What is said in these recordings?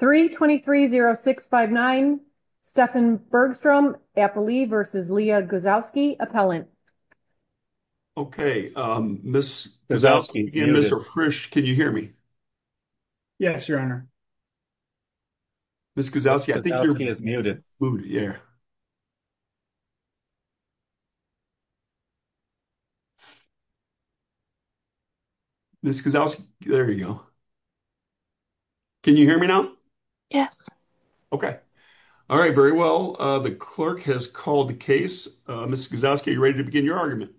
3-23-06-59 Stefan Bergstrom vs. Leigha Guzowski Okay, Ms. Guzowski and Mr. Frisch, can you hear me? Yes, Your Honor. Ms. Guzowski, I think you're muted. Muted, yeah. Ms. Guzowski, there you go. Can you hear me now? Yes. Okay. All right, very well. The clerk has called the case. Ms. Guzowski, are you ready to begin your argument?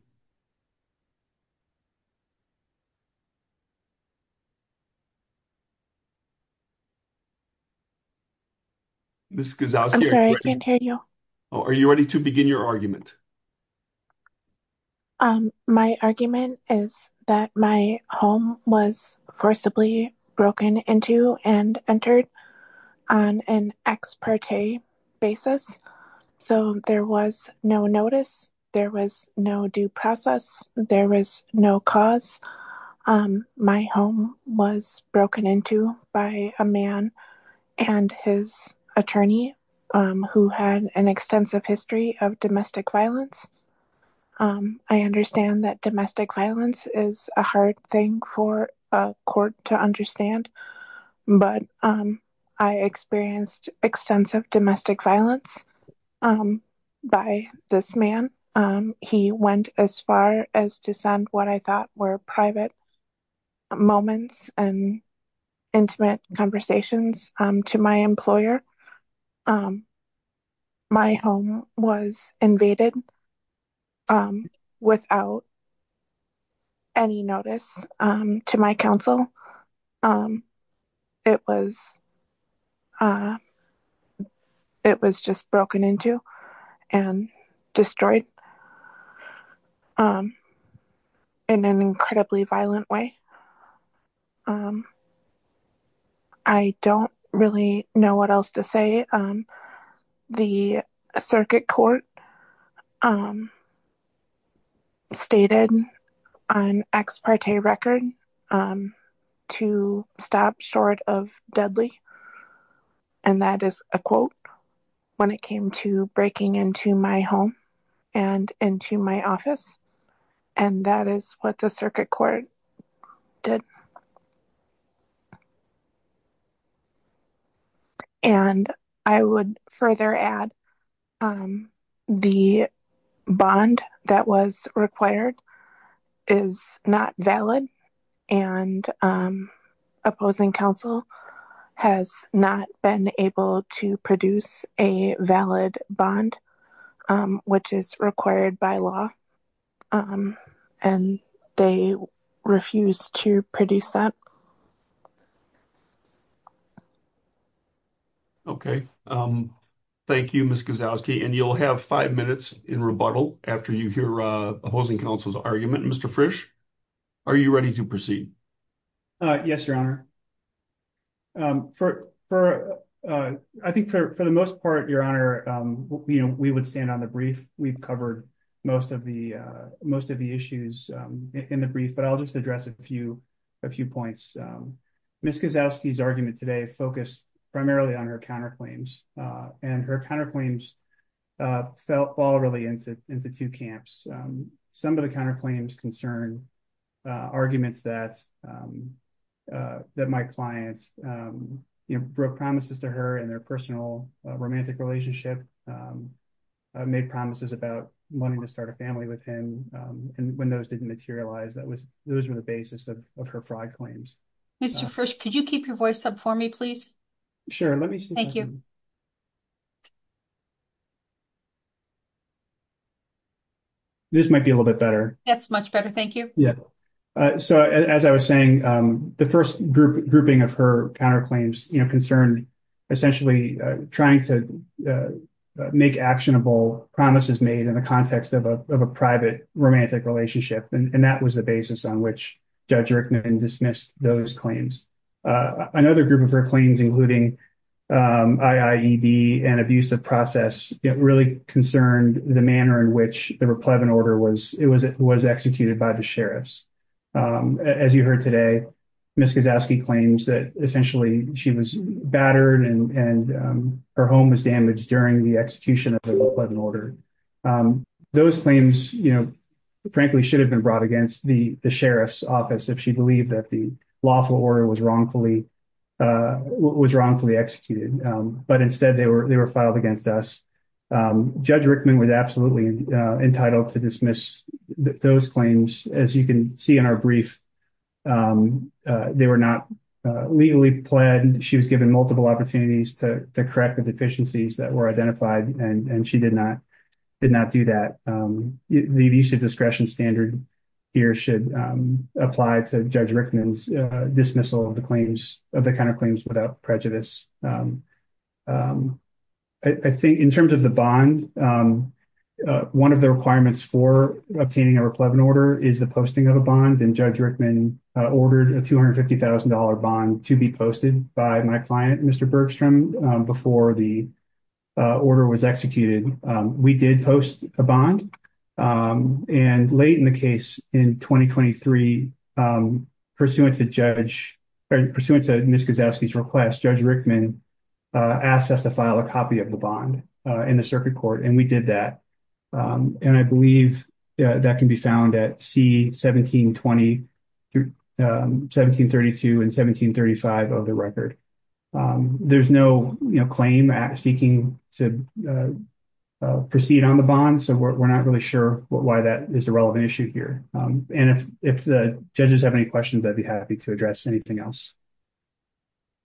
I'm sorry, I can't hear you. Oh, are you ready to begin your argument? My argument is that my home was forcibly broken into and entered on an ex parte basis, so there was no notice, there was no due process, there was no cause. My home was broken into by a man and his attorney who had an extensive history of domestic violence. I understand that domestic violence is a hard thing for a court to understand, but I experienced extensive domestic violence by this man. He went as far as to send what I thought were private moments and intimate conversations to my employer. My home was invaded without any notice to my counsel. It was just broken into and destroyed in an incredibly violent way. I don't really know what else to say. The circuit court stated on ex parte record to stop short of deadly, and that is a quote when it came to breaking into my home and into my office, and that is what the circuit court did. And I would further add the bond that was required is not valid, and opposing counsel has not been able to produce a valid bond, which is required by law, and they refused to produce that. Okay, thank you, Ms. Kozlowski, and you'll have five minutes in rebuttal after you hear opposing counsel's argument. Mr. Frisch, are you ready to proceed? Yes, Your Honor. I think for the most part, Your Honor, we would stand on the brief. We've covered most of the issues in the brief, but I'll just address a few points. Ms. Kozlowski's argument today focused primarily on her counterclaims, and her counterclaims fall really into two camps. Some of the counterclaims concern arguments that my clients broke promises to her in their personal romantic relationship, made promises about wanting to start a family with him, and when those didn't materialize, those were the basis of her fraud claims. Mr. Frisch, could you keep your voice up for me, please? Sure, let me see. Thank you. This might be a little bit better. That's much better, thank you. So, as I was saying, the first grouping of her counterclaims concerned essentially trying to make actionable promises made in the context of a private romantic relationship, and that was the basis on which Judge Rickman dismissed those claims. Another group of her claims, including IIED and abusive process, really concerned the manner in which the replevant order was executed by the sheriffs. As you heard today, Ms. Kozlowski claims that essentially she was battered and her home was damaged during the execution of the lawful order. Those claims, you know, frankly should have been brought against the sheriff's office if she believed that the lawful order was wrongfully executed, but instead they were filed against us. Judge Rickman was absolutely entitled to dismiss those claims. As you can see in our brief, they were not legally pledged. She was given multiple opportunities to correct the deficiencies that were identified, and she did not do that. The use of discretion standard here should apply to Judge Rickman's dismissal of the claims, of the counterclaims without prejudice. I think in terms of the bond, one of the requirements for obtaining a replevant order is the posting of a bond, and Judge Rickman ordered a $250,000 bond to be posted by my client, Mr. Bergstrom, before the order was executed. We did post a bond, and late in the case in 2023, pursuant to Judge, or pursuant to Ms. Gazowski's request, Judge Rickman asked us to file a copy of the bond in the circuit court, and we did that. And I believe that can be found at C1720, 1732, and 1735 of the record. There's no, you know, claim seeking to proceed on the bond, so we're not really sure why that is a relevant issue here. And if the judges have any questions, I'd be happy to address anything else.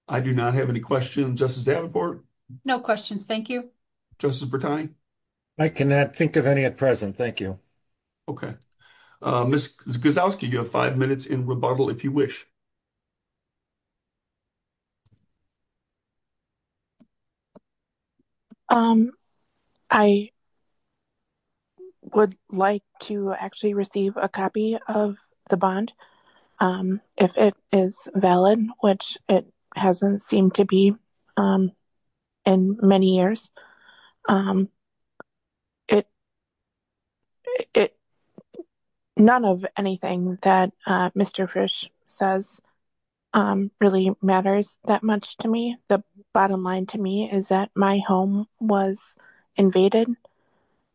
I do not have any questions. Justice Davenport? No questions. Thank you. Justice Bertoni? I cannot think of any at present. Thank you. Okay. Ms. Gazowski, you have five minutes in rebuttal, if you wish. I would like to actually receive a copy of the bond, if it is valid, which it hasn't seemed to be in many years. None of anything that Mr. Frisch says really matters that much to me. The bottom line to me is that my home was invaded.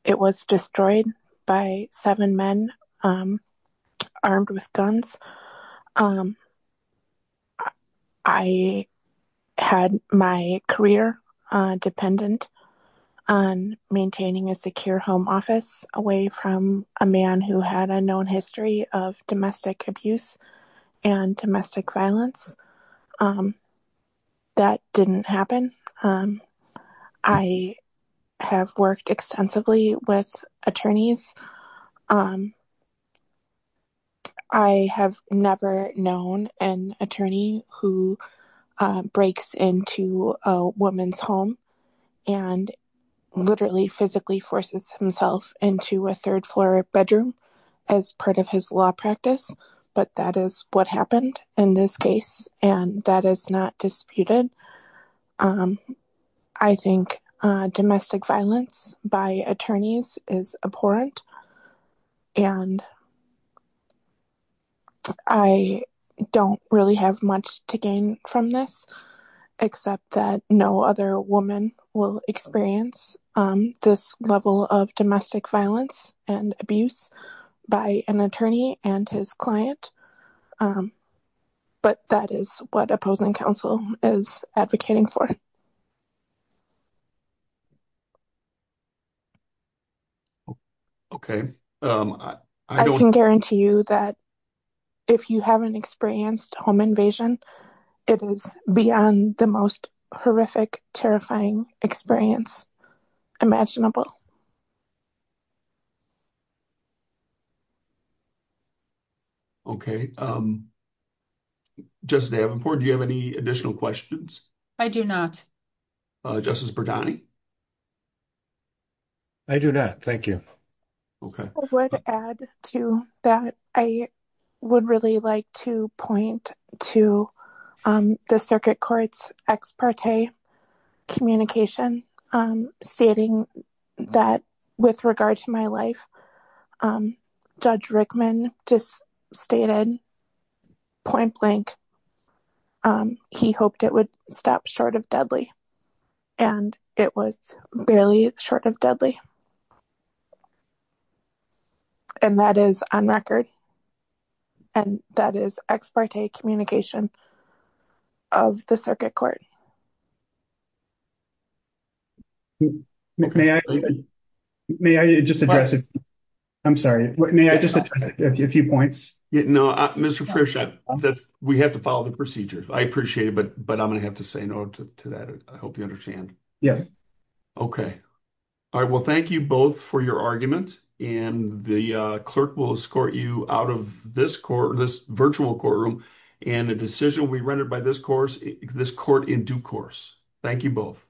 It was destroyed by seven men armed with guns. I had my career dependent on maintaining a secure home office away from a man who had a known history of domestic abuse and domestic violence. That didn't happen. I have worked extensively with attorneys. I have never known an attorney who breaks into a woman's home and literally physically forces himself into a third floor bedroom as part of his law practice, but that is what happened in this case. That is not disputed. I think domestic violence by attorneys is abhorrent. I don't really have much to gain from this, except that no other woman will experience this level of domestic violence and abuse by an attorney and his client, but that is what opposing counsel is advocating for. Okay. I can guarantee you that if you haven't experienced home invasion, it is beyond the most horrific, terrifying experience imaginable. Okay. Justice Davenport, do you have any additional questions? I do not. Justice Berdani? I do not. Thank you. I would add to that. I would really like to point to the circuit court's ex parte communication stating that with regard to my life, Judge Rickman just stated point blank he hoped it would stop short of deadly, and it was barely short of deadly. And that is on record, and that is ex parte communication of the circuit court. May I just address it? I'm sorry. May I just add a few points? Yeah, no. Mr. Frisch, we have to follow the procedure. I appreciate it, but I'm going to have to say no to that. I hope you understand. Yeah. Okay. All right. Well, thank you both for your argument, and the clerk will escort you out of this virtual courtroom and a decision will be rendered by this court in due course. Thank you both.